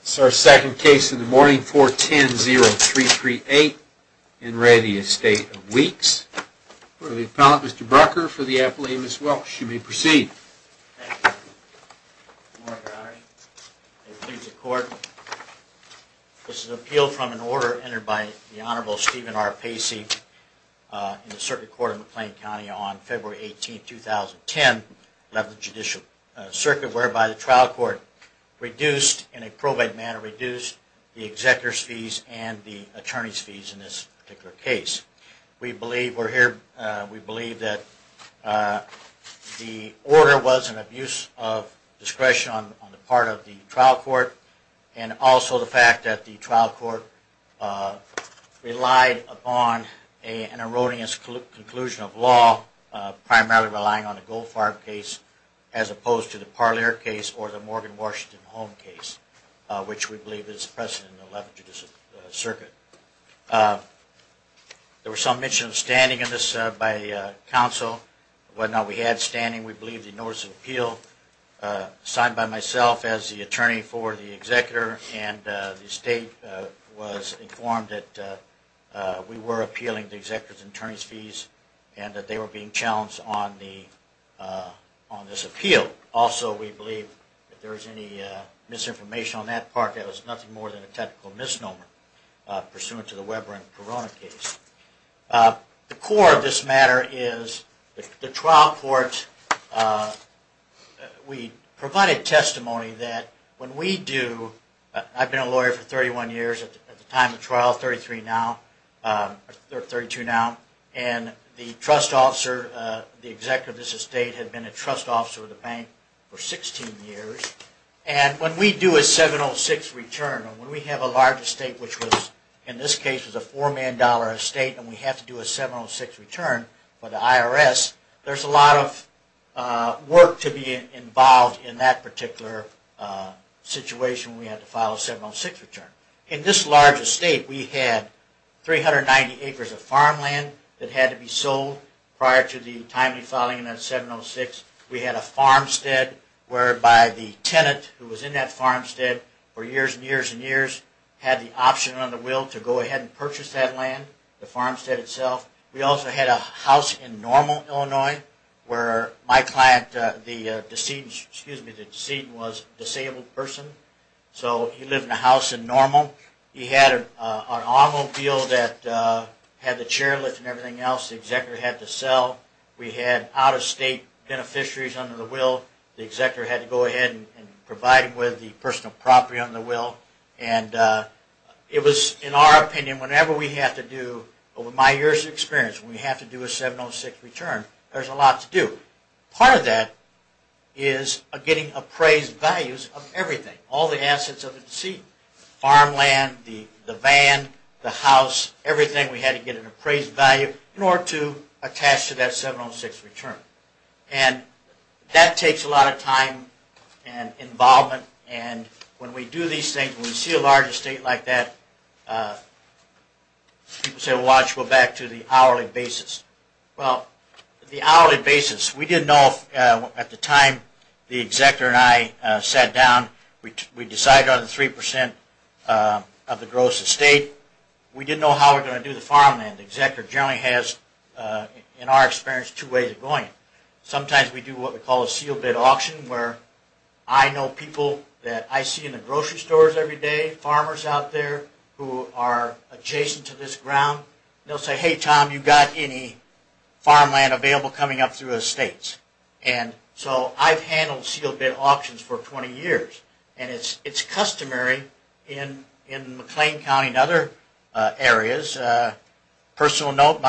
This is our second case in the morning, 410-0338, in re Estate of Weeks. We'll go to the appellant, Mr. Brucker, for the appellate, Ms. Welch. You may proceed. Thank you. Good morning, Your Honor. May it please the Court, This is an appeal from an order entered by the Honorable Stephen R. Pacey in the Circuit Court of McLean County on February 18, 2010, 11th Judicial Circuit, whereby the trial court reduced, in a probate manner, reduced the executor's fees and the attorney's fees in this particular case. We believe that the order was an abuse of discretion on the part of the trial court, and also the fact that the trial court relied upon an erroneous conclusion of law, primarily relying on the Goldfarb case as opposed to the Parlier case or the Morgan Washington Home case, which we believe is precedent in the 11th Judicial Circuit. There was some mention of standing in this by counsel. Whether or not we had standing, we believe the notice of appeal, signed by myself as the attorney for the executor and the estate, was informed that we were appealing the executor's and attorney's fees and that they were being challenged on this appeal. Also, we believe if there was any misinformation on that part, that was nothing more than a technical misnomer pursuant to the Weber and Corona case. The core of this matter is the trial court, we provided testimony that when we do, I've been a lawyer for 31 years at the time of trial, 33 now, or 32 now, and the trust officer, the executor of this estate, had been a trust officer of the bank for 16 years, and when we do a 706 return, when we have a large estate, which in this case was a $4 million estate, and we have to do a 706 return for the IRS, there's a lot of work to be involved in that particular situation when we have to file a 706 return. In this large estate, we had 390 acres of farmland that had to be sold prior to the timely filing of that 706. We had a farmstead whereby the tenant who was in that farmstead for years and years and years had the option on the will to go ahead and purchase that land, the farmstead itself. We also had a house in Normal, Illinois, where my client, the decedent was a disabled person, so he lived in a house in Normal. He had an automobile that had the chairlift and everything else the executor had to sell. We had out-of-state beneficiaries under the will. The executor had to go ahead and provide him with the personal property under the will, and it was, in our opinion, whenever we have to do, over my years of experience, when we have to do a 706 return, there's a lot to do. Part of that is getting appraised values of everything, all the assets of the decedent, farmland, the van, the house, everything we had to get an appraised value in order to attach to that 706 return. That takes a lot of time and involvement. When we do these things, when we see a large estate like that, people say, well, why don't you go back to the hourly basis. Well, the hourly basis, we didn't know at the time the executor and I sat down, we decided on the 3% of the gross estate. We didn't know how we were going to do the farmland. The executor generally has, in our experience, two ways of going. Sometimes we do what we call a seal bid auction, where I know people that I see in the grocery stores every day, farmers out there who are adjacent to this ground. They'll say, hey, Tom, you got any farmland available coming up through estates? I've handled seal bid auctions for 20 years. It's customary in McLean County and other areas. Personal note,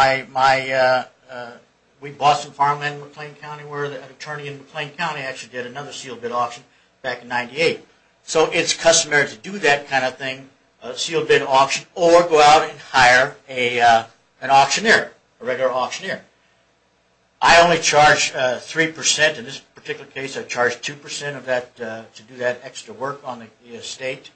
we bought some farmland in McLean County where an attorney in McLean County actually did another seal bid auction back in 98. It's customary to do that kind of thing, a seal bid auction, or go out and hire an auctioneer, a regular auctioneer. I only charge 3%. In this particular case, I charged 2% to do that extra work on the estate.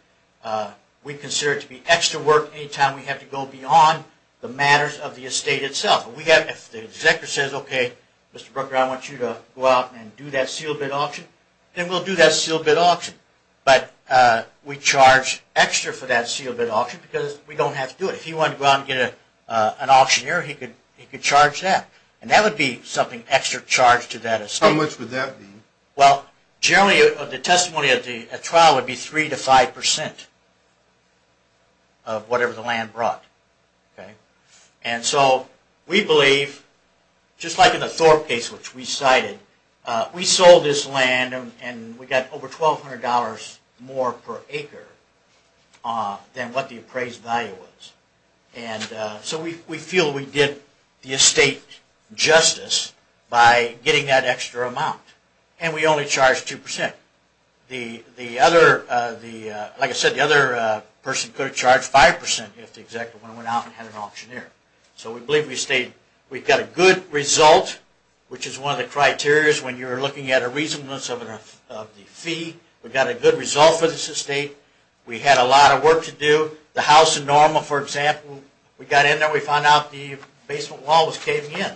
We consider it to be extra work any time we have to go beyond the matters of the estate itself. If the executor says, okay, Mr. Brooker, I want you to go out and do that seal bid auction, then we'll do that seal bid auction. We charge extra for that seal bid auction because we don't have to do it. If he wanted to go out and get an auctioneer, he could charge that. That would be something extra charged to that estate. How much would that be? Generally, the testimony of the trial would be 3% to 5% of whatever the land brought. We believe, just like in the Thorpe case which we cited, we sold this land and we got over $1,200 more per acre than what the appraised value was. We feel we did the estate justice by getting that extra amount, and we only charged 2%. Like I said, the other person could have charged 5% if the executor went out and had an auctioneer. We believe we've got a good result, which is one of the criterias when you're looking at a reasonableness of the fee. We've got a good result for this estate. We had a lot of work to do. The house in Norma, for example, we got in there and we found out the basement wall was caving in.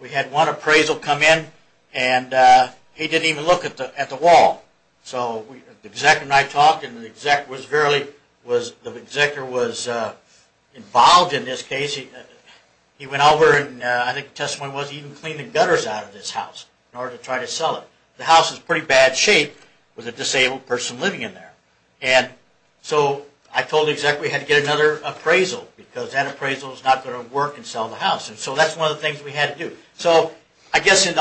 We had one appraisal come in, and he didn't even look at the wall. The executor and I talked, and the executor was involved in this case. He went over and I think the testimony was he even cleaned the gutters out of this house in order to try to sell it. The house is in pretty bad shape with a disabled person living in there. And so I told the executor we had to get another appraisal because that appraisal is not going to work and sell the house. And so that's one of the things we had to do. So I guess in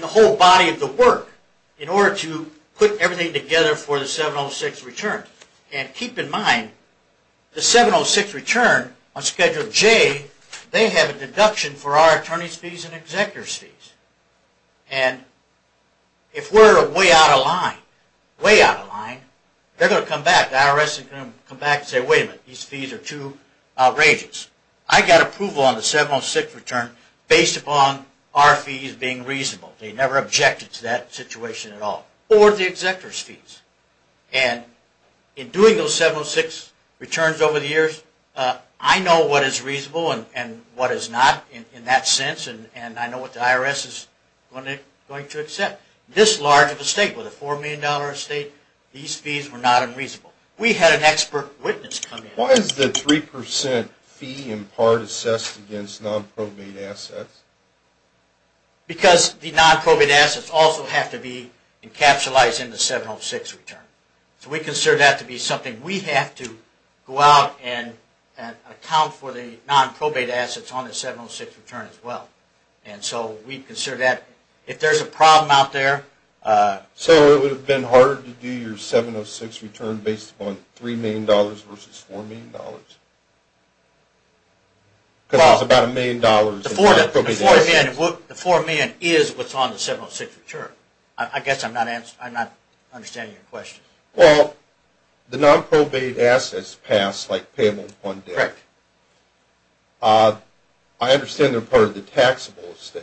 the whole body of the work, in order to put everything together for the 706 return, and keep in mind the 706 return on Schedule J they have a deduction for our attorney's fees and executor's fees. And if we're way out of line, way out of line, they're going to come back. The IRS is going to come back and say, wait a minute, these fees are too outrageous. I got approval on the 706 return based upon our fees being reasonable. They never objected to that situation at all. Or the executor's fees. And in doing those 706 returns over the years, I know what is reasonable and what is not in that sense, and I know what the IRS is going to accept. This large of a state with a $4 million estate, these fees were not unreasonable. We had an expert witness come in. Why is the 3% fee in part assessed against non-probate assets? Because the non-probate assets also have to be encapsulized in the 706 return. So we consider that to be something we have to go out and account for the non-probate assets on the 706 return as well. And so we consider that. If there's a problem out there... So it would have been harder to do your 706 return based upon $3 million versus $4 million? Because there's about $1 million in non-probate assets. The $4 million is what's on the 706 return. I guess I'm not understanding your question. Well, the non-probate assets pass like payable upon debt. I understand they're part of the taxable estate,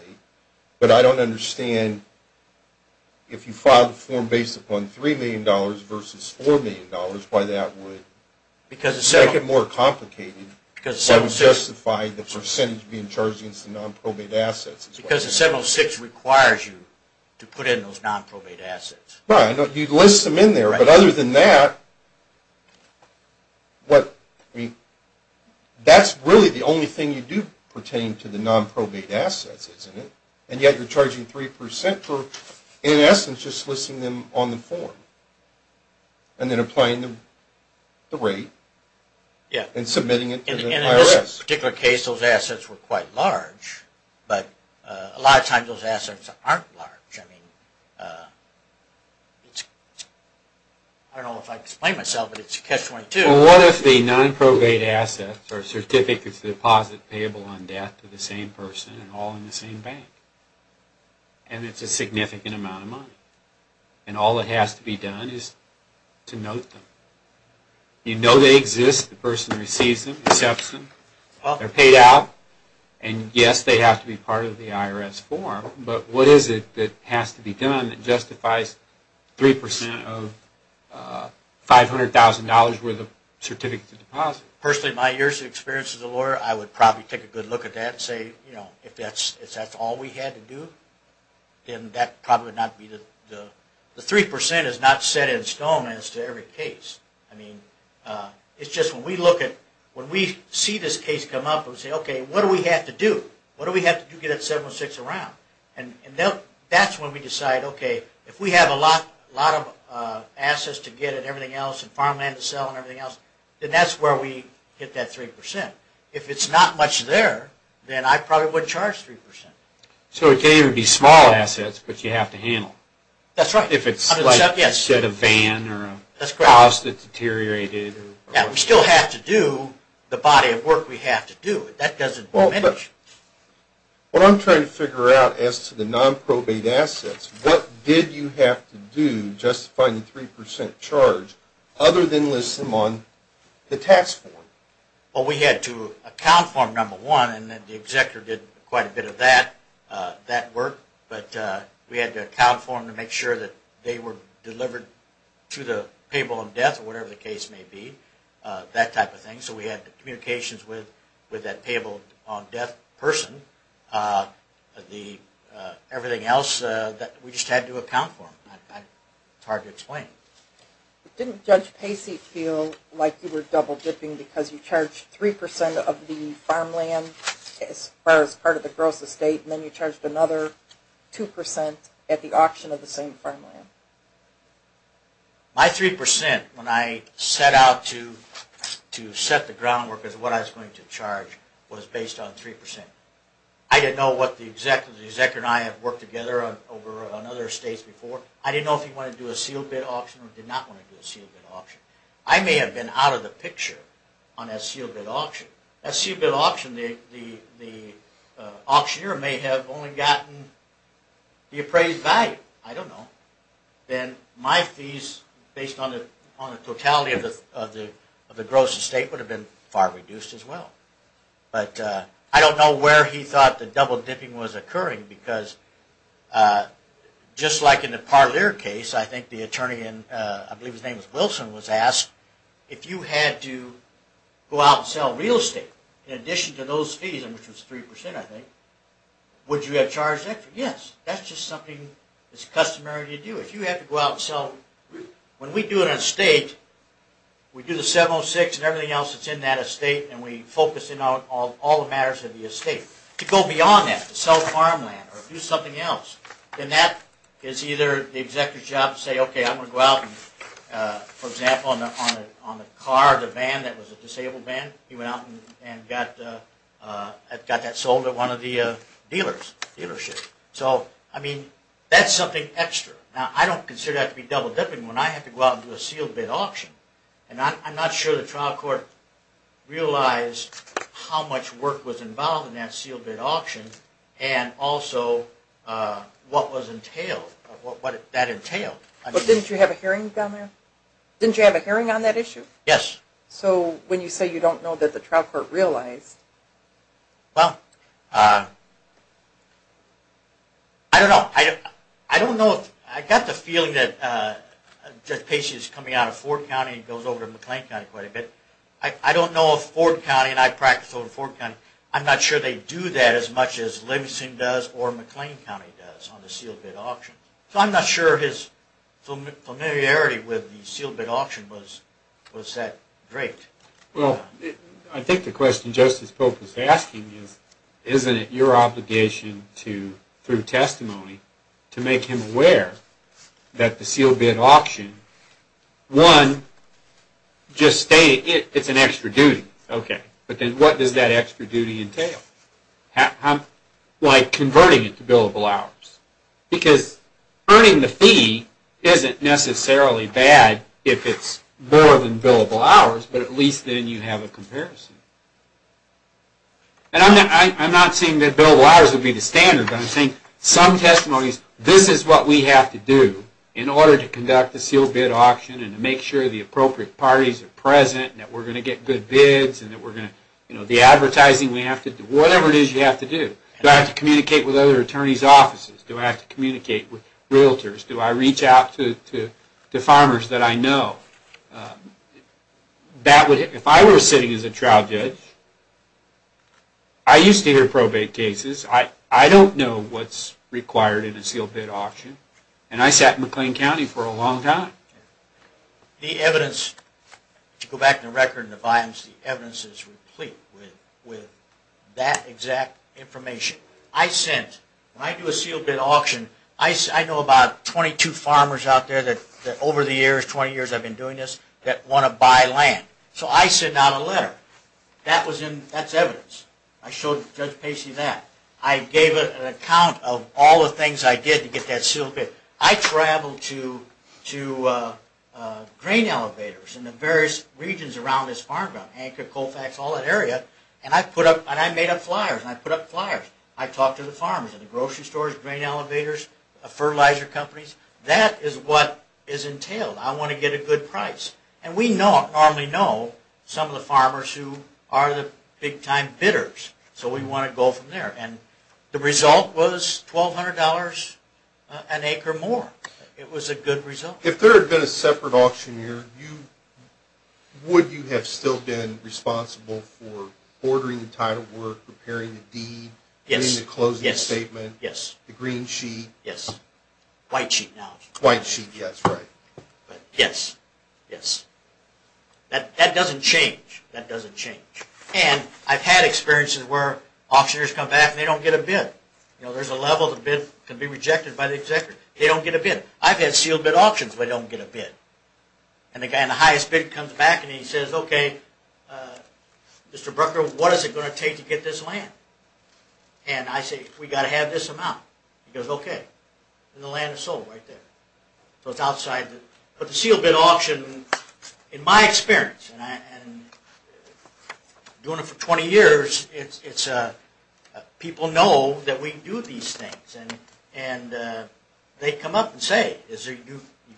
but I don't understand if you file the form based upon $3 million versus $4 million, why that would make it more complicated. It would justify the percentage being charged against the non-probate assets. Because the 706 requires you to put in those non-probate assets. Right, you list them in there. But other than that, that's really the only thing you do pertain to the non-probate assets, isn't it? And yet you're charging 3% for, in essence, just listing them on the form and then applying the rate and submitting it to the IRS. In this particular case, those assets were quite large. But a lot of times those assets aren't large. I don't know if I can explain myself, but it's a catch-22. Well, what if the non-probate assets are certificates of deposit payable on debt to the same person and all in the same bank? And it's a significant amount of money. And all that has to be done is to note them. You know they exist, the person receives them, accepts them, they're paid out, and yes, they have to be part of the IRS form. But what is it that has to be done that justifies 3% of $500,000 worth of certificates of deposit? Personally, in my years of experience as a lawyer, I would probably take a good look at that and say, you know, if that's all we had to do, then that probably would not be the... The 3% is not set in stone as to every case. I mean, it's just when we look at... So we say, okay, what do we have to do? What do we have to do to get that 706 around? And that's when we decide, okay, if we have a lot of assets to get and everything else and farmland to sell and everything else, then that's where we get that 3%. If it's not much there, then I probably wouldn't charge 3%. So it could even be small assets, but you have to handle. That's right. If it's like a van or a house that's deteriorated. Yeah, we still have to do the body of work we have to do. That doesn't diminish. What I'm trying to figure out as to the nonprobate assets, what did you have to do just to find the 3% charge other than list them on the tax form? Well, we had to account for them, number one, and the executor did quite a bit of that work. But we had to account for them to make sure that they were delivered to the payable in death or whatever the case may be, that type of thing. So we had communications with that payable in death person. Everything else, we just had to account for them. It's hard to explain. Didn't Judge Pacey feel like you were double dipping because you charged 3% of the farmland as far as part of the gross estate and then you charged another 2% at the auction of the same farmland? My 3% when I set out to set the groundwork as to what I was going to charge was based on 3%. I didn't know what the executor, the executor and I had worked together on other estates before. I didn't know if he wanted to do a sealed bid auction or did not want to do a sealed bid auction. I may have been out of the picture on that sealed bid auction. That sealed bid auction, the auctioneer may have only gotten the appraised value. I don't know. Then my fees based on the totality of the gross estate would have been far reduced as well. But I don't know where he thought the double dipping was occurring because just like in the Parlier case, I think the attorney, I believe his name was Wilson, was asked if you had to go out and sell real estate in addition to those fees, which was 3% I think, would you have charged extra? Yes, that's just something that's customary to do. If you have to go out and sell, when we do an estate, we do the 706 and everything else that's in that estate and we focus in on all the matters of the estate. To go beyond that, to sell farmland or do something else, then that is either the executor's job to say, okay, I'm going to go out and, for example, on the car, the van that was a disabled van, he went out and got that sold at one of the dealers, dealership. So, I mean, that's something extra. Now, I don't consider that to be double dipping when I have to go out and do a sealed bid auction. And I'm not sure the trial court realized how much work was involved in that sealed bid auction and also what was entailed, what that entailed. But didn't you have a hearing down there? Didn't you have a hearing on that issue? Yes. So, when you say you don't know that the trial court realized. Well, I don't know. I don't know. I got the feeling that Casey is coming out of Ford County and goes over to McLean County quite a bit. I don't know if Ford County, and I practice over in Ford County, I'm not sure they do that as much as Livingston does or McLean County does on the sealed bid auction. So, I'm not sure his familiarity with the sealed bid auction was that great. Well, I think the question Justice Pope was asking is, isn't it your obligation to, through testimony, to make him aware that the sealed bid auction, one, just stated it's an extra duty. Okay. But then what does that extra duty entail? Like converting it to billable hours. Because earning the fee isn't necessarily bad if it's more than billable hours, but at least then you have a comparison. And I'm not saying that billable hours would be the standard, but I'm saying some testimonies, this is what we have to do in order to conduct a sealed bid auction and to make sure the appropriate parties are present and that we're going to get good bids and that we're going to, you know, the advertising we have to do, whatever it is you have to do. Do I have to communicate with other attorneys' offices? Do I have to communicate with realtors? Do I reach out to farmers that I know? If I were sitting as a trial judge, I used to hear probate cases. I don't know what's required in a sealed bid auction, and I sat in McLean County for a long time. The evidence, to go back to the record and the volumes, the evidence is replete with that exact information. I sent, when I do a sealed bid auction, I know about 22 farmers out there that over the years, 20 years I've been doing this, that want to buy land. So I sent out a letter. That's evidence. I showed Judge Pacey that. I gave an account of all the things I did to get that sealed bid. I traveled to grain elevators in the various regions around this farm ground, Anchor, Colfax, all that area, and I made up flyers, and I put up flyers. I talked to the farmers in the grocery stores, grain elevators, fertilizer companies. That is what is entailed. I want to get a good price. And we normally know some of the farmers who are the big-time bidders, so we want to go from there. And the result was $1,200 an acre more. It was a good result. If there had been a separate auctioneer, would you have still been responsible for ordering the title work, preparing the deed, doing the closing statement, the green sheet? Yes. White sheet now. White sheet, yes, right. Yes. Yes. That doesn't change. That doesn't change. And I've had experiences where auctioneers come back and they don't get a bid. You know, there's a level the bid can be rejected by the executive. They don't get a bid. I've had sealed bid auctions where they don't get a bid. And the guy in the highest bid comes back and he says, okay, Mr. Brucker, what is it going to take to get this land? And I say, we've got to have this amount. He goes, okay. And the land is sold right there. So it's outside. But the sealed bid auction, in my experience, and doing it for 20 years, people know that we do these things. And they come up and say, is there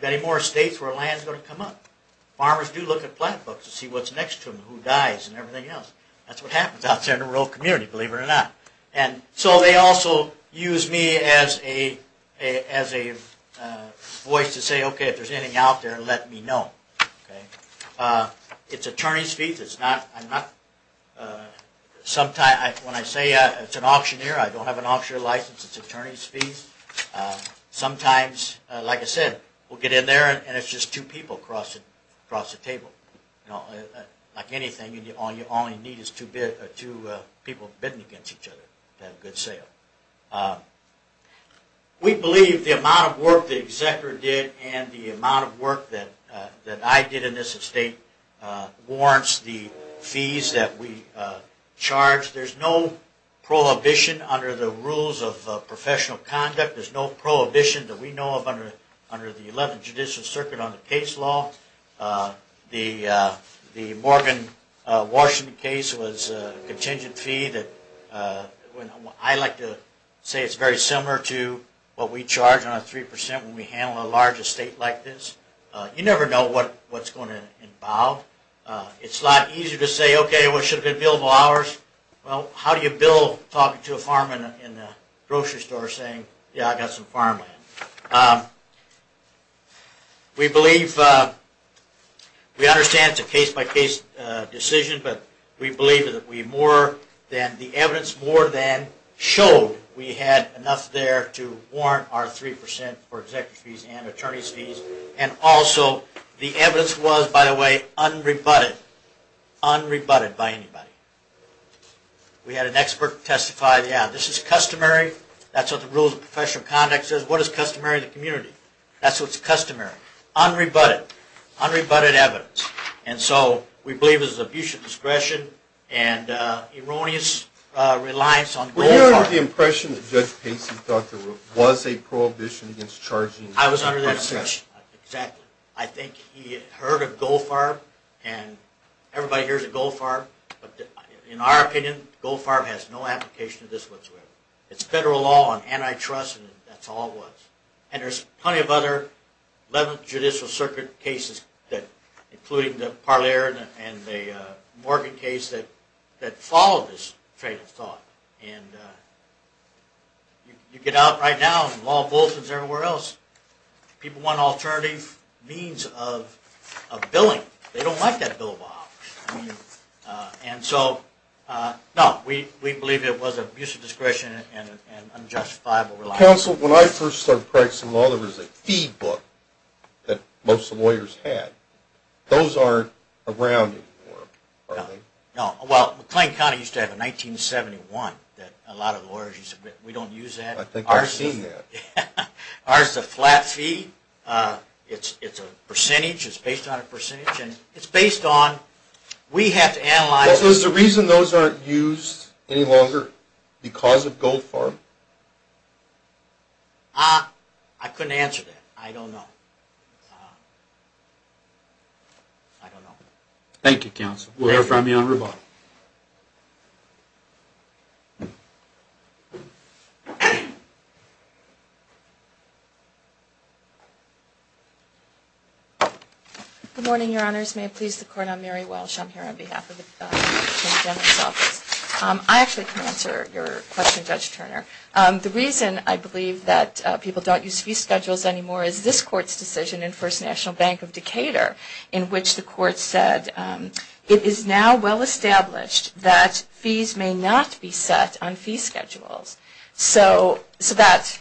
any more estates where land is going to come up? Farmers do look at plant books to see what's next to them, who dies and everything else. That's what happens outside in the rural community, believe it or not. So they also use me as a voice to say, okay, if there's anything out there, let me know. It's attorney's fees. When I say it's an auctioneer, I don't have an auctioneer license. It's attorney's fees. Sometimes, like I said, we'll get in there and it's just two people across the table. Like anything, all you need is two people bidding against each other to have a good sale. We believe the amount of work the executor did and the amount of work that I did in this estate warrants the fees that we charge. There's no prohibition under the rules of professional conduct. There's no prohibition that we know of under the 11th Judicial Circuit on the case law. The Morgan, Washington case was a contingent fee. I like to say it's very similar to what we charge on a 3% when we handle a large estate like this. You never know what's going to evolve. It's a lot easier to say, okay, what should have been billable hours? Well, how do you bill talking to a farmer in a grocery store saying, yeah, I got some farmland? We understand it's a case-by-case decision, but we believe that the evidence more than showed we had enough there to warrant our 3% for executor's fees and attorney's fees. And also, the evidence was, by the way, unrebutted. Unrebutted by anybody. We had an expert testify, yeah, this is customary. That's what the rules of professional conduct says. What is customary in the community? That's what's customary. Unrebutted. Unrebutted evidence. And so, we believe this is abuse of discretion and erroneous reliance on the green card. Were you under the impression that Judge Pacey thought there was a prohibition against charging I was under the impression, exactly. I think he heard of Goldfarb, and everybody hears of Goldfarb. In our opinion, Goldfarb has no application of this whatsoever. It's federal law and antitrust, and that's all it was. And there's plenty of other 11th Judicial Circuit cases, including the Parler and the Morgan case that followed this fatal thought. And you get out right now, and law enforcement is everywhere else. People want alternative means of billing. They don't like that bill of office. And so, no, we believe it was abuse of discretion and unjustifiable reliance. Counsel, when I first started practicing law, there was a fee book that most lawyers had. Those aren't around anymore, are they? No, well, McLean County used to have a 1971 that a lot of lawyers used to get. We don't use that. I think I've seen that. Ours is a flat fee. It's a percentage. It's based on a percentage. And it's based on, we have to analyze. So is the reason those aren't used any longer because of Goldfarb? I couldn't answer that. I don't know. I don't know. Thank you, Counsel. We'll hear from you on rebuttal. Good morning, Your Honors. May it please the Court. I'm Mary Welsh. I'm here on behalf of the Attorney General's Office. I actually can answer your question, Judge Turner. The reason I believe that people don't use fee schedules anymore is this Court's decision in First National Bank of Decatur that it is now well established that fees may not be set on fee schedules. So that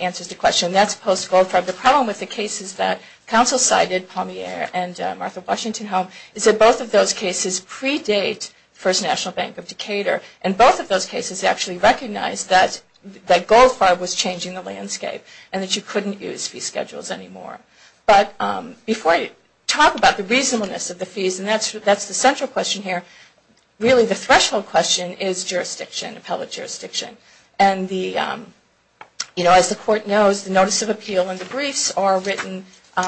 answers the question. That's post-Goldfarb. The problem with the cases that Counsel cited, Palmier and Martha Washington-Holm, is that both of those cases predate First National Bank of Decatur. And both of those cases actually recognize that Goldfarb was changing the landscape and that you couldn't use fee schedules anymore. But before I talk about the reasonableness of the fees, and that's the central question here, really the threshold question is jurisdiction, public jurisdiction. And as the Court knows, the Notice of Appeal and the briefs are written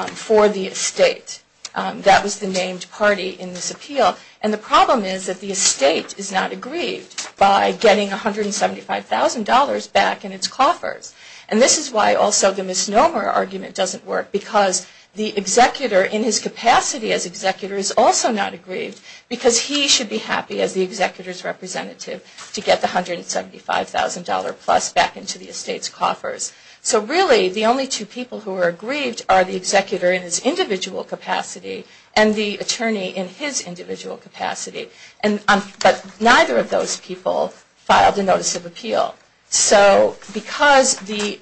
for the estate. That was the named party in this appeal. And the problem is that the estate is not aggrieved by getting $175,000 back in its coffers. And this is why also the misnomer argument doesn't work because the executor in his capacity as executor is also not aggrieved because he should be happy as the executor's representative to get the $175,000 plus back into the estate's coffers. So really the only two people who are aggrieved are the executor in his individual capacity and the attorney in his individual capacity. But neither of those people filed a Notice of Appeal. So because the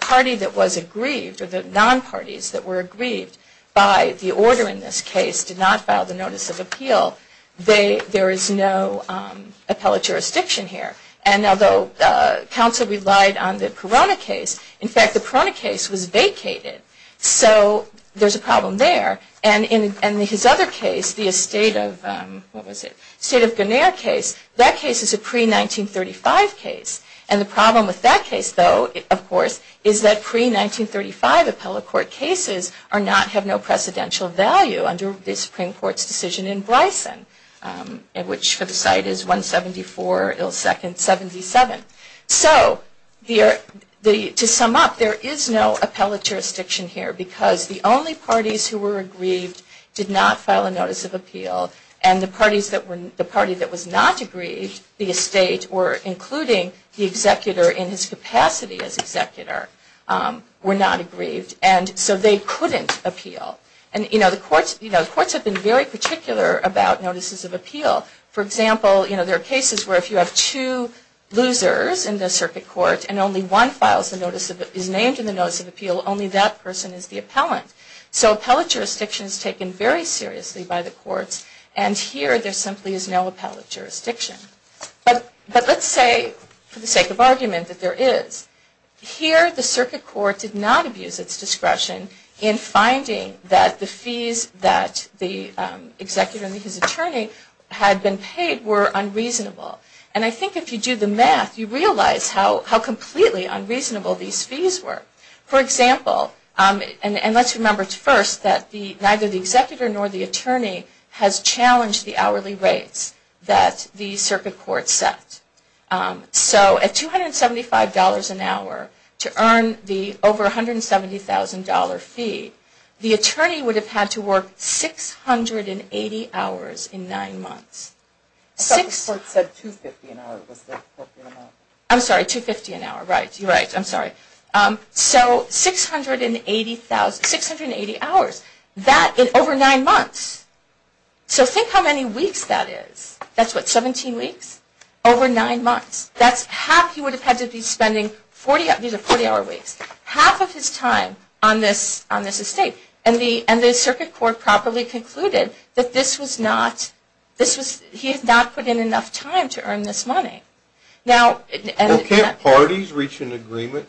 party that was aggrieved or the non-parties that were aggrieved by the order in this case did not file the Notice of Appeal, there is no appellate jurisdiction here. And although counsel relied on the Perona case, in fact the Perona case was vacated. So there's a problem there. And in his other case, the estate of, what was it, the estate of Guinier case, that case is a pre-1935 case. And the problem with that case, though, of course, is that pre-1935 appellate court cases have no precedential value under the Supreme Court's decision in Bryson, which for the site is 174 ill second 77. So to sum up, there is no appellate jurisdiction here because the only parties who were aggrieved did not file a Notice of Appeal. And the party that was not aggrieved, the estate or including the executor in his capacity as executor, were not aggrieved. And so they couldn't appeal. And the courts have been very particular about Notices of Appeal. For example, there are cases where if you have two losers in the circuit court and only one is named in the Notice of Appeal, only that person is the appellant. So appellate jurisdiction is taken very seriously by the courts. And here there simply is no appellate jurisdiction. But let's say, for the sake of argument, that there is. Here the circuit court did not abuse its discretion in finding that the fees that the executor and his attorney had been paid were unreasonable. And I think if you do the math, you realize how completely unreasonable these fees were. For example, and let's remember first that neither the executor nor the attorney has challenged the hourly rates that the circuit court set. So at $275 an hour to earn the over $170,000 fee, the attorney would have had to work 680 hours in nine months. I thought the court said 250 an hour was the appropriate amount. I'm sorry, 250 an hour. Right, you're right. I'm sorry. So 680 hours. That in over nine months. So think how many weeks that is. That's what, 17 weeks? Over nine months. That's half he would have had to be spending. These are 40-hour weeks. Half of his time on this estate. And the circuit court properly concluded that he had not put in enough time to earn this money. Can't parties reach an agreement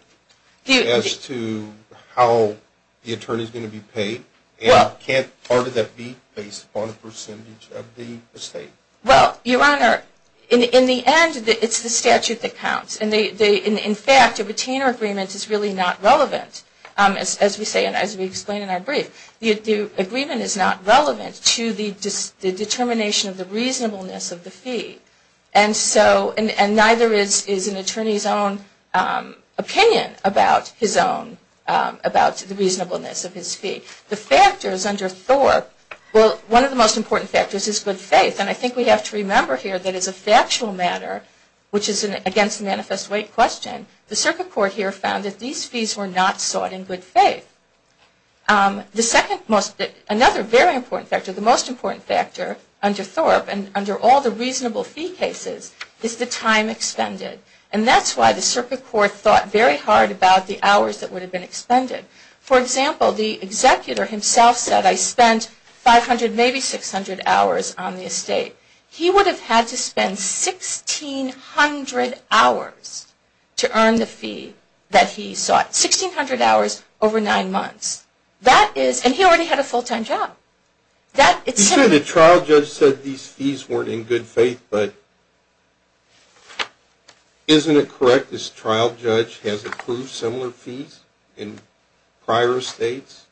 as to how the attorney is going to be paid? And can't part of that be based on a percentage of the estate? Well, your Honor, in the end, it's the statute that counts. In fact, a retainer agreement is really not relevant, as we say in our brief. The agreement is not relevant to the determination of the reasonableness of the fee. And neither is an attorney's own opinion about his own, about the reasonableness of his fee. The factors under Thorpe, well, one of the most important factors is good faith. And I think we have to remember here that as a factual matter, which is against the manifest weight question, the circuit court here found that these fees were not sought in good faith. The second most, another very important factor, the most important factor under Thorpe, and under all the reasonable fee cases, is the time expended. And that's why the circuit court thought very hard about the hours that would have been expended. For example, the executor himself said, I spent 500, maybe 600 hours on the estate. He would have had to spend 1,600 hours to earn the fee that he sought, 1,600 hours over nine months. And he already had a full-time job. You said the trial judge said these fees weren't in good faith, but isn't it correct this trial judge has approved similar fees in prior estates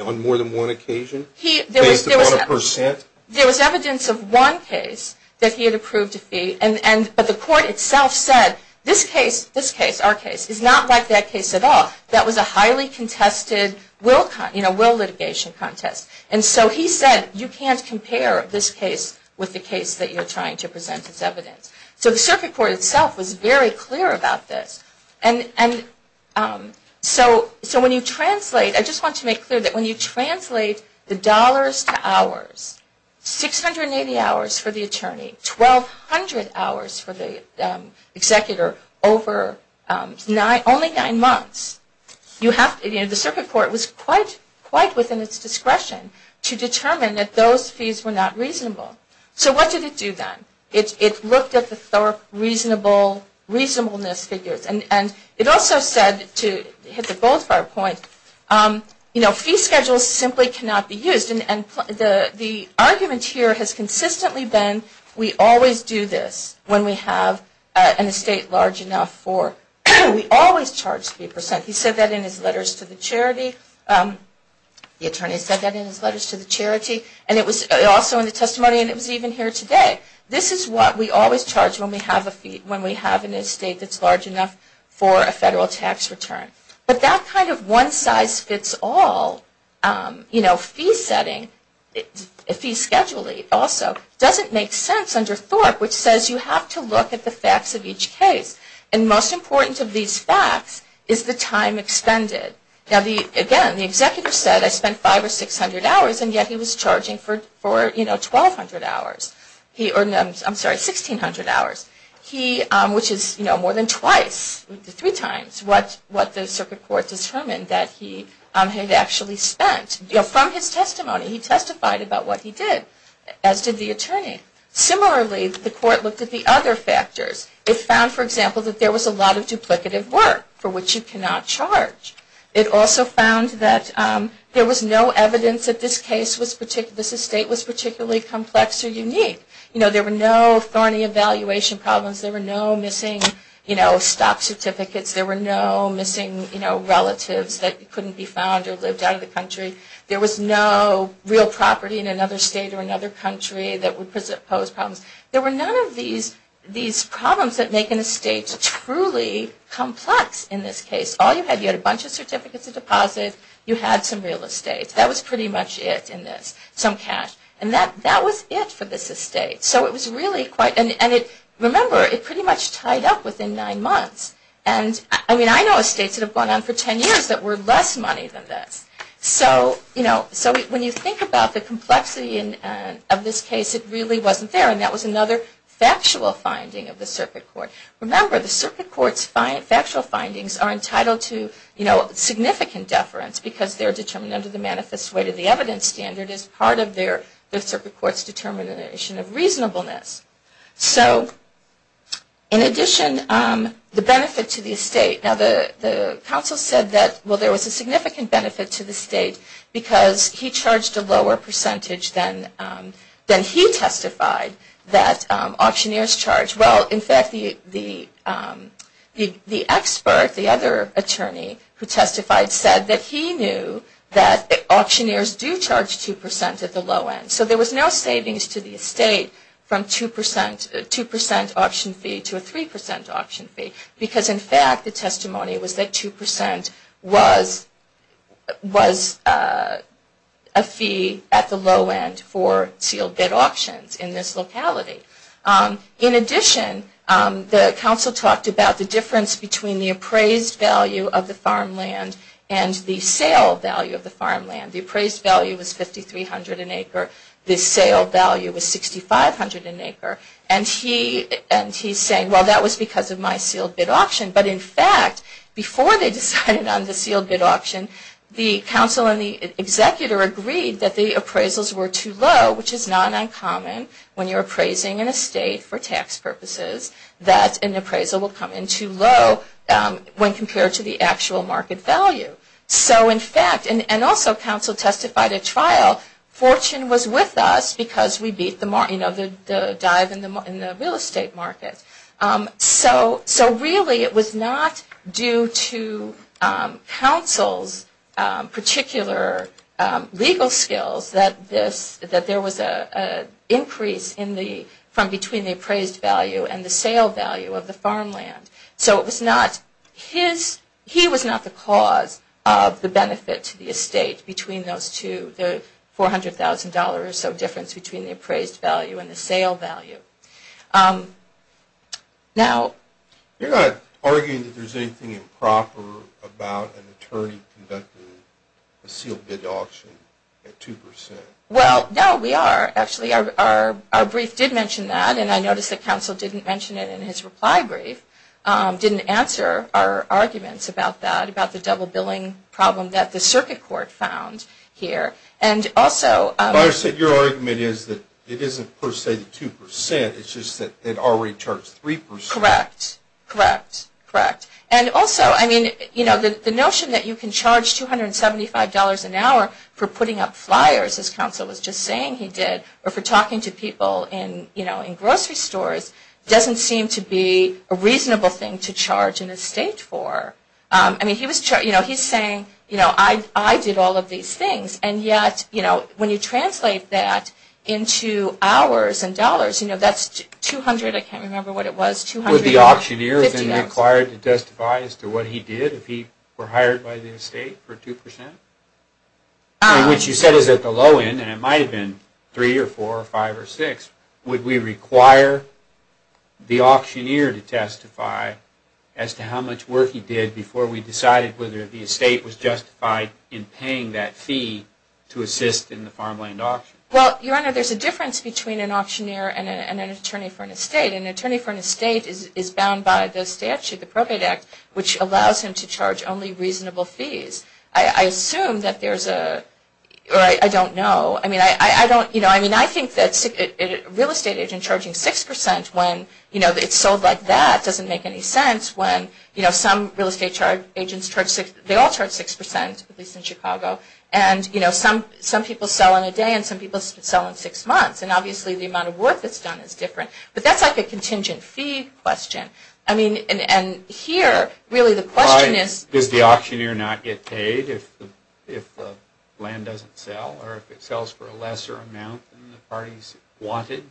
on more than one occasion based upon a percent? There was evidence of one case that he had approved a fee, but the court itself said, this case, this case, our case, is not like that case at all. That was a highly contested will litigation contest. And so he said, you can't compare this case with the case that you're trying to present as evidence. So the circuit court itself was very clear about this. And so when you translate, I just want to make clear that when you 680 hours for the attorney, 1,200 hours for the executor over only nine months, the circuit court was quite within its discretion to determine that those fees were not reasonable. So what did it do then? It looked at the reasonableness figures. And it also said, to hit the bull's-eye point, fee schedules simply cannot be used. And the argument here has consistently been, we always do this when we have an estate large enough for, we always charge 3%. He said that in his letters to the charity. The attorney said that in his letters to the charity. And it was also in the testimony, and it was even here today. This is what we always charge when we have a fee, when we have an estate that's large enough for a federal tax return. But that kind of one-size-fits-all, you know, fee setting, fee scheduling also, doesn't make sense under Thorpe, which says you have to look at the facts of each case. And most important of these facts is the time expended. Now, again, the executor said, I spent five or 600 hours, and yet he was charging for 1,200 hours. I'm sorry, 1,600 hours, which is more than twice, three times, what the circuit court determined that he had actually spent. You know, from his testimony, he testified about what he did, as did the attorney. Similarly, the court looked at the other factors. It found, for example, that there was a lot of duplicative work, for which you cannot charge. It also found that there was no evidence that this case was, this estate was particularly complex or unique. You know, there were no thorny evaluation problems. There were no missing, you know, stock certificates. There were no missing, you know, relatives that couldn't be found or lived out of the country. There was no real property in another state or another country that would pose problems. There were none of these problems that make an estate truly complex in this case. All you had, you had a bunch of certificates of deposit. You had some real estate. That was pretty much it in this, some cash. And that was it for this estate. So it was really quite, and remember, it pretty much tied up within nine months. And I mean, I know estates that have gone on for ten years that were less money than this. So, you know, so when you think about the complexity of this case, it really wasn't there. And that was another factual finding of the circuit court. Remember, the circuit court's factual findings are entitled to, you know, significant deference because they're determined under the manifest weight of the evidence standard as part of their, the circuit court's determination of reasonableness. So in addition, the benefit to the estate, now the counsel said that, well, there was a significant benefit to the state because he charged a lower percentage than he testified that auctioneers charged. Well, in fact, the expert, the other attorney who testified, said that he knew that auctioneers do charge 2% at the low end. So there was no savings to the estate from 2% auction fee to a 3% auction fee because, in fact, the testimony was that 2% was a fee at the low end for sealed bid options in this locality. In addition, the counsel talked about the difference between the appraised value of the farmland and the sale value of the farmland. The appraised value was 5,300 an acre. The sale value was 6,500 an acre. And he's saying, well, that was because of my sealed bid auction. But, in fact, before they decided on the sealed bid auction, the counsel and the executor agreed that the appraisals were too low, which is not uncommon when you're appraising an estate for tax purposes that an appraisal will come in too low when compared to the actual market value. So, in fact, and also counsel testified at trial, fortune was with us because we beat the dive in the real estate market. So really it was not due to counsel's particular legal skills that there was an increase from between the appraised value and the sale value of the farmland. So it was not his, he was not the cause of the benefit to the estate between those two, the $400,000 or so difference between the appraised value and the sale value. Now. You're not arguing that there's anything improper about an attorney conducting a sealed bid auction at 2%. Well, no, we are. Actually, our brief did mention that, and I noticed that counsel didn't mention it in his reply brief, didn't answer our arguments about that, about the double billing problem that the circuit court found here. And also. Your argument is that it isn't per se 2%, it's just that it already charged 3%. Correct, correct, correct. And also, I mean, you know, the notion that you can charge $275 an hour for putting up flyers, as counsel was just saying he did, or for talking to people in, you know, in grocery stores doesn't seem to be a reasonable thing to charge an estate for. I mean, he was, you know, he's saying, you know, I did all of these things, and yet, you know, when you translate that into hours and dollars, you know, that's $200, I can't remember what it was, $250. Would the auctioneer have been required to testify as to what he did if he were hired by the estate for 2%? And what you said is at the low end, and it might have been 3 or 4 or 5 or 6, would we require the auctioneer to testify as to how much work he did before we decided whether the estate was justified in paying that fee to assist in the farmland auction? Well, Your Honor, there's a difference between an auctioneer and an attorney for an estate. An attorney for an estate is bound by the statute, the Appropriate Act, which allows him to charge only reasonable fees. I assume that there's a – or I don't know. I mean, I don't – you know, I mean, I think that real estate agent charging 6% when, you know, it's sold like that doesn't make any sense when, you know, some real estate agents charge – they all charge 6%, at least in Chicago, and, you know, some people sell in a day and some people sell in 6 months, and obviously the amount of work that's done is different. But that's like a contingent fee question. I mean, and here, really the question is – Is it paid if the land doesn't sell or if it sells for a lesser amount than the parties wanted?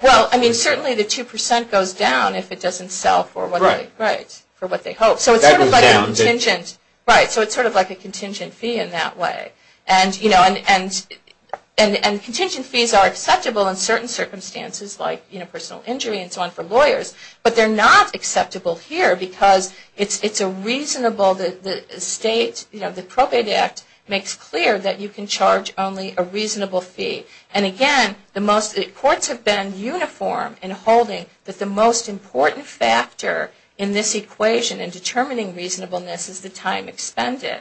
Well, I mean, certainly the 2% goes down if it doesn't sell for what they – Right. Right, for what they hope. So it's sort of like a contingent – That goes down. Right, so it's sort of like a contingent fee in that way. And, you know, and contingent fees are acceptable in certain circumstances like, you know, personal injury and so on for lawyers, but they're not acceptable here because it's a reasonable – the state, you know, the Probate Act makes clear that you can charge only a reasonable fee. And, again, the courts have been uniform in holding that the most important factor in this equation in determining reasonableness is the time expended.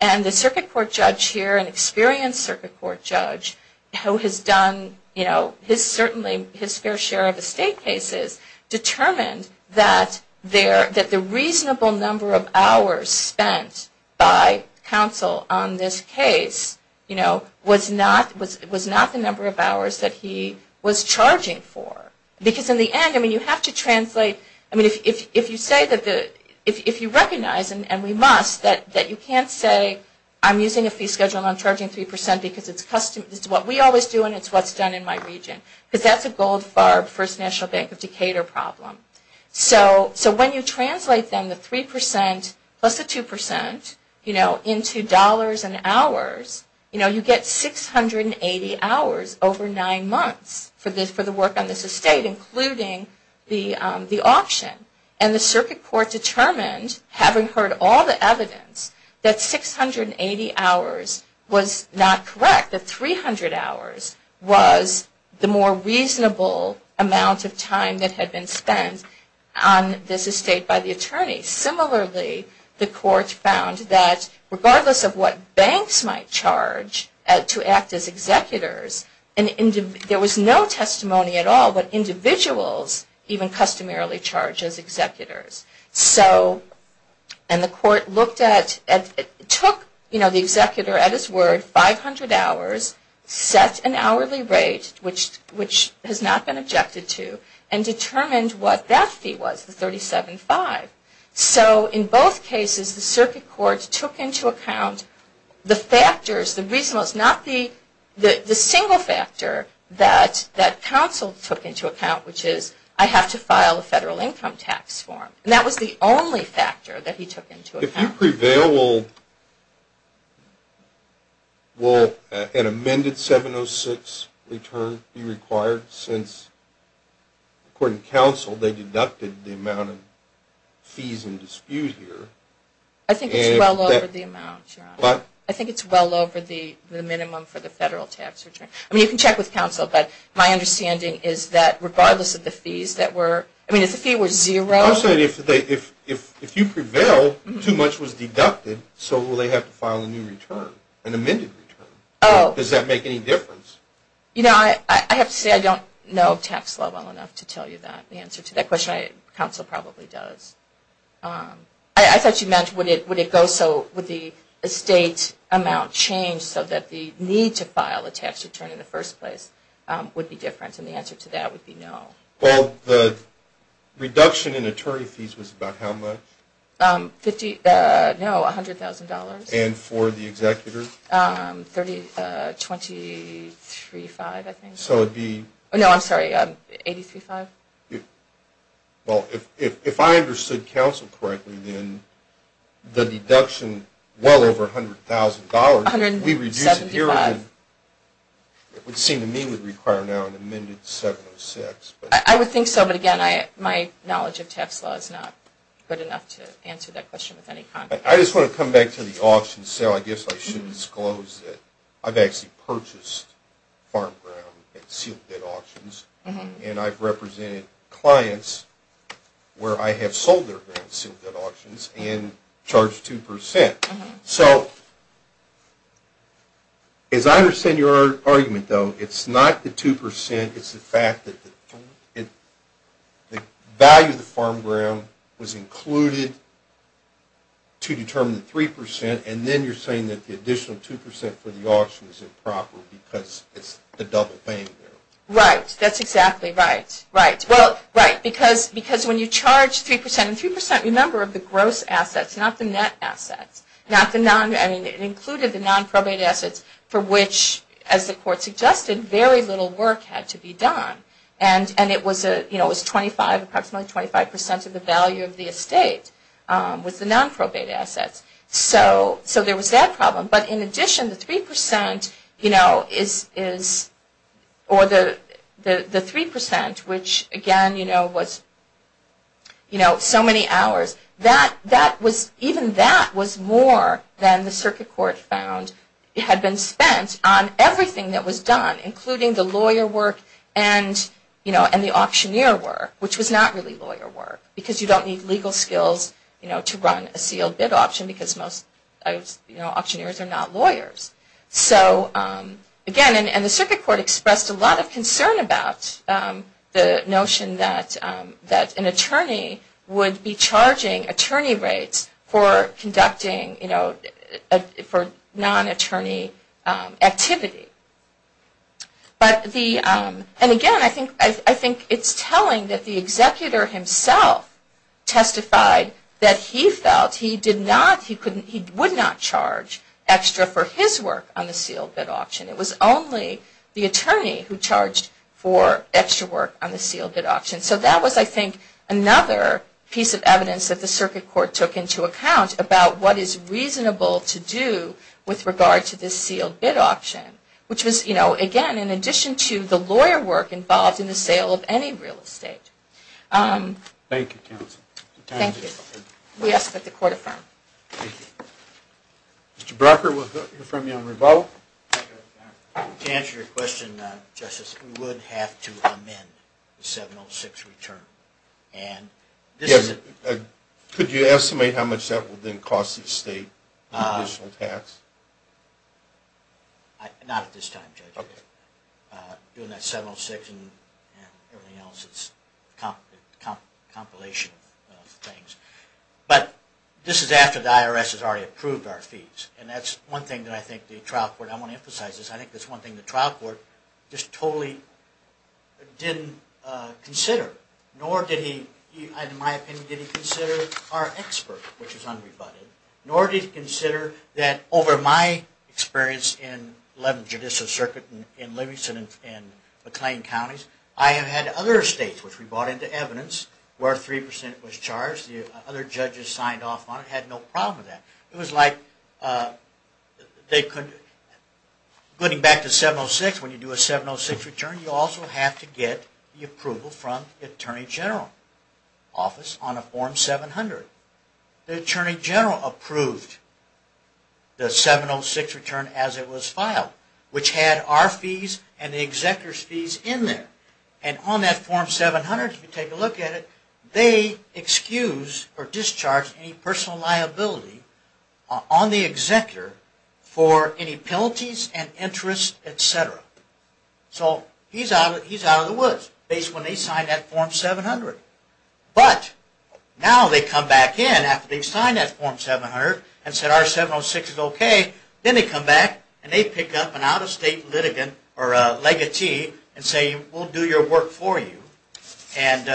And the circuit court judge here, an experienced circuit court judge, who has done, you know, his – certainly his fair share of estate cases determined that the reasonable number of hours spent by counsel on this case, you know, was not the number of hours that he was charging for. Because in the end, I mean, you have to translate – I mean, if you say that the – if you recognize, and we must, that you can't say I'm using a fee schedule and I'm charging 3% because it's custom – it's what we always do and it's what's done in my region. Because that's a Goldfarb First National Bank of Decatur problem. So when you translate then the 3% plus the 2%, you know, into dollars and hours, you know, you get 680 hours over nine months for the work on this estate, including the auction. And the circuit court determined, having heard all the evidence, that 680 hours was not correct. That 300 hours was the more reasonable amount of time that had been spent on this estate by the attorney. Similarly, the court found that regardless of what banks might charge to act as executors, there was no testimony at all what individuals even customarily charge as executors. So – and the court looked at – took, you know, the executor at his word, 500 hours, set an hourly rate, which has not been objected to, and determined what that fee was, the 375. So in both cases, the circuit court took into account the factors, the reasonableness, not the single factor that counsel took into account, which is, I have to file a federal income tax form. And that was the only factor that he took into account. If you prevail, will an amended 706 return be required since, according to counsel, they deducted the amount of fees in dispute here? I think it's well over the amount, Your Honor. What? I think it's well over the minimum for the federal tax return. I mean, you can check with counsel. But my understanding is that regardless of the fees that were – I mean, if the fee were zero – I'm saying if they – if you prevail, too much was deducted, so will they have to file a new return, an amended return? Oh. Does that make any difference? You know, I have to say I don't know tax law well enough to tell you that, the answer to that question. Counsel probably does. I thought you meant would it go so – would the estate amount change so that the need to file a tax return in the first place would be different, and the answer to that would be no. Well, the reduction in attorney fees was about how much? Fifty – no, $100,000. And for the executor? Twenty-three-five, I think. So it would be – No, I'm sorry, $83,500. Well, if I understood counsel correctly, then the deduction, well over $100,000, if we reduce it here, it would seem to me would require now an amended 706. I would think so, but, again, my knowledge of tax law is not good enough to answer that question with any confidence. I just want to come back to the auction sale. I guess I should disclose that I've actually purchased farm ground at sealed-debt auctions, and I've represented clients where I have sold their ground at sealed-debt auctions and charged 2%. So as I understand your argument, though, it's not the 2%. It's the fact that the value of the farm ground was included to determine the 3%, and then you're saying that the additional 2% for the auction is improper because it's the double claim there. Right. That's exactly right. Right. Well, right, because when you charge 3% – and 3%, remember, are the gross assets, not the net assets. It included the non-probate assets for which, as the court suggested, very little work had to be done. And it was approximately 25% of the value of the estate was the non-probate assets. So there was that problem. But in addition, the 3%, which, again, was so many hours, even that was more than the circuit court found. It had been spent on everything that was done, including the lawyer work and the auctioneer work, which was not really lawyer work, because you don't need legal skills to run a sealed-debt auction because most auctioneers are not lawyers. So, again, and the circuit court expressed a lot of concern about the notion that an attorney would be charging attorney rates for conducting, you know, for non-attorney activity. But the – and, again, I think it's telling that the executor himself testified that he felt he did not – he would not charge extra for his work on the sealed-debt auction. It was only the attorney who charged for extra work on the sealed-debt auction. So that was, I think, another piece of evidence that the circuit court took into account about what is reasonable to do with regard to this sealed-debt auction, which was, you know, again, in addition to the lawyer work involved in the sale of any real estate. Thank you, counsel. Thank you. We ask that the court affirm. Thank you. Mr. Brocker, we'll hear from you on rebuttal. To answer your question, Justice, we would have to amend the 706 return. And this is a – Could you estimate how much that would then cost the state in additional tax? Not at this time, Judge. Okay. Doing that 706 and everything else, it's a compilation of things. But this is after the IRS has already approved our fees. And that's one thing that I think the trial court – I want to emphasize this. I think that's one thing the trial court just totally didn't consider. Nor did he – in my opinion, did he consider our expert, which is unrebutted. Nor did he consider that over my experience in 11th Judicial Circuit in Livingston and McLean counties, I have had other states, which we brought into evidence where 3% was charged. The other judges signed off on it, had no problem with that. It was like they couldn't – going back to 706, when you do a 706 return, you also have to get the approval from the Attorney General's office on a Form 700. The Attorney General approved the 706 return as it was filed, which had our fees and the executor's fees in there. And on that Form 700, if you take a look at it, they excuse or discharge any personal liability on the executor for any penalties and interest, etc. So he's out of the woods, based on when they signed that Form 700. But now they come back in after they've signed that Form 700 and said our 706 is okay. Then they come back and they pick up an out-of-state litigant or a legatee and say, we'll do your work for you. And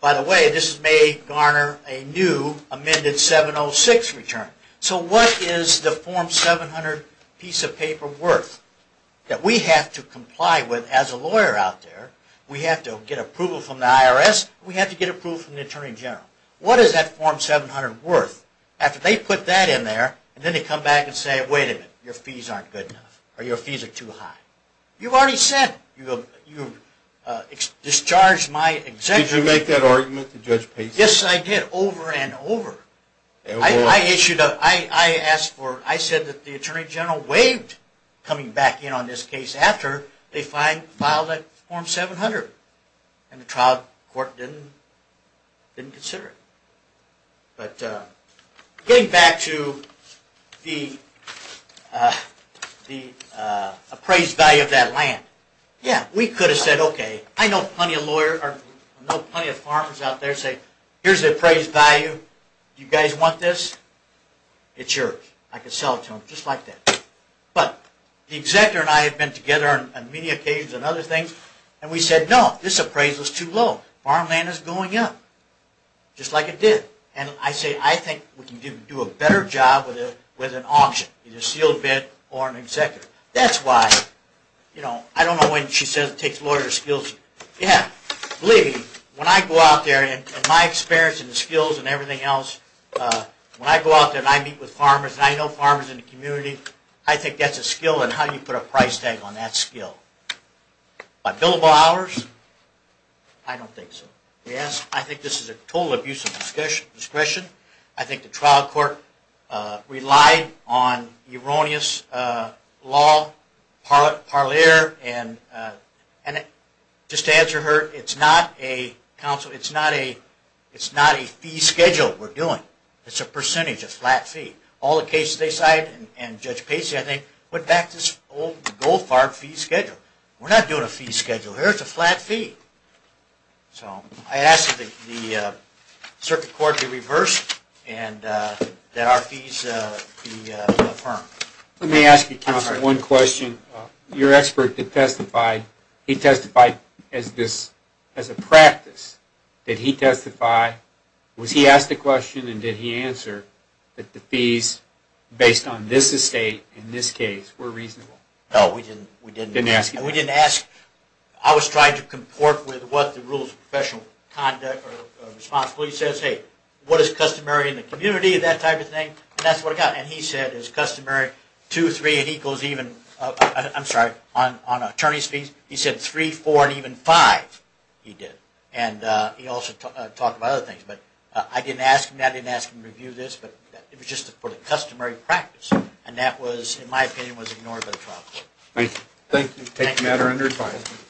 by the way, this may garner a new amended 706 return. So what is the Form 700 piece of paper worth that we have to comply with as a lawyer out there? We have to get approval from the IRS. We have to get approval from the Attorney General. What is that Form 700 worth? After they put that in there, then they come back and say, wait a minute, your fees aren't good enough or your fees are too high. You've already said it. You've discharged my executive. Did you make that argument to Judge Pace? Yes, I did, over and over. I asked for it. I said that the Attorney General waived coming back in on this case after they filed that Form 700. And the trial court didn't consider it. But getting back to the appraised value of that land. Yeah, we could have said, okay, I know plenty of farmers out there say, here's the appraised value. Do you guys want this? It's yours. I can sell it to them, just like that. But the executor and I have been together on many occasions on other things, and we said, no, this appraisal is too low. Farmland is going up, just like it did. And I say, I think we can do a better job with an auction, either a sealed bid or an executive. That's why, you know, I don't know when she says it takes lawyers' skills. Yeah, believe me, when I go out there, and my experience and skills and everything else, when I go out there and I meet with farmers, and I know farmers in the community, I think that's a skill, and how do you put a price tag on that skill? By billable hours? I don't think so. Yes, I think this is a total abuse of discretion. I think the trial court relied on erroneous law, parler, and just to answer her, it's not a fee schedule we're doing. It's a percentage, a flat fee. All the cases they cited, and Judge Pacey, I think, put back this old gold-farbed fee schedule. We're not doing a fee schedule here. It's a flat fee. So I ask that the circuit court be reversed and that our fees be affirmed. Let me ask you, counsel, one question. Your expert did testify. He testified as a practice. Did he testify? Was he asked a question and did he answer that the fees based on this estate in this case were reasonable? No, we didn't ask that. I was trying to comport with what the rules of professional conduct are responsible. He says, hey, what is customary in the community, that type of thing, and that's what I got. And he said, it's customary two, three, it equals even, I'm sorry, on attorney's fees. He said three, four, and even five he did. And he also talked about other things. But I didn't ask him that. I didn't ask him to review this. But it was just for the customary practice. And that was, in my opinion, was ignored by the trial court. Thank you. Thank you. Thank you, madam under adviser.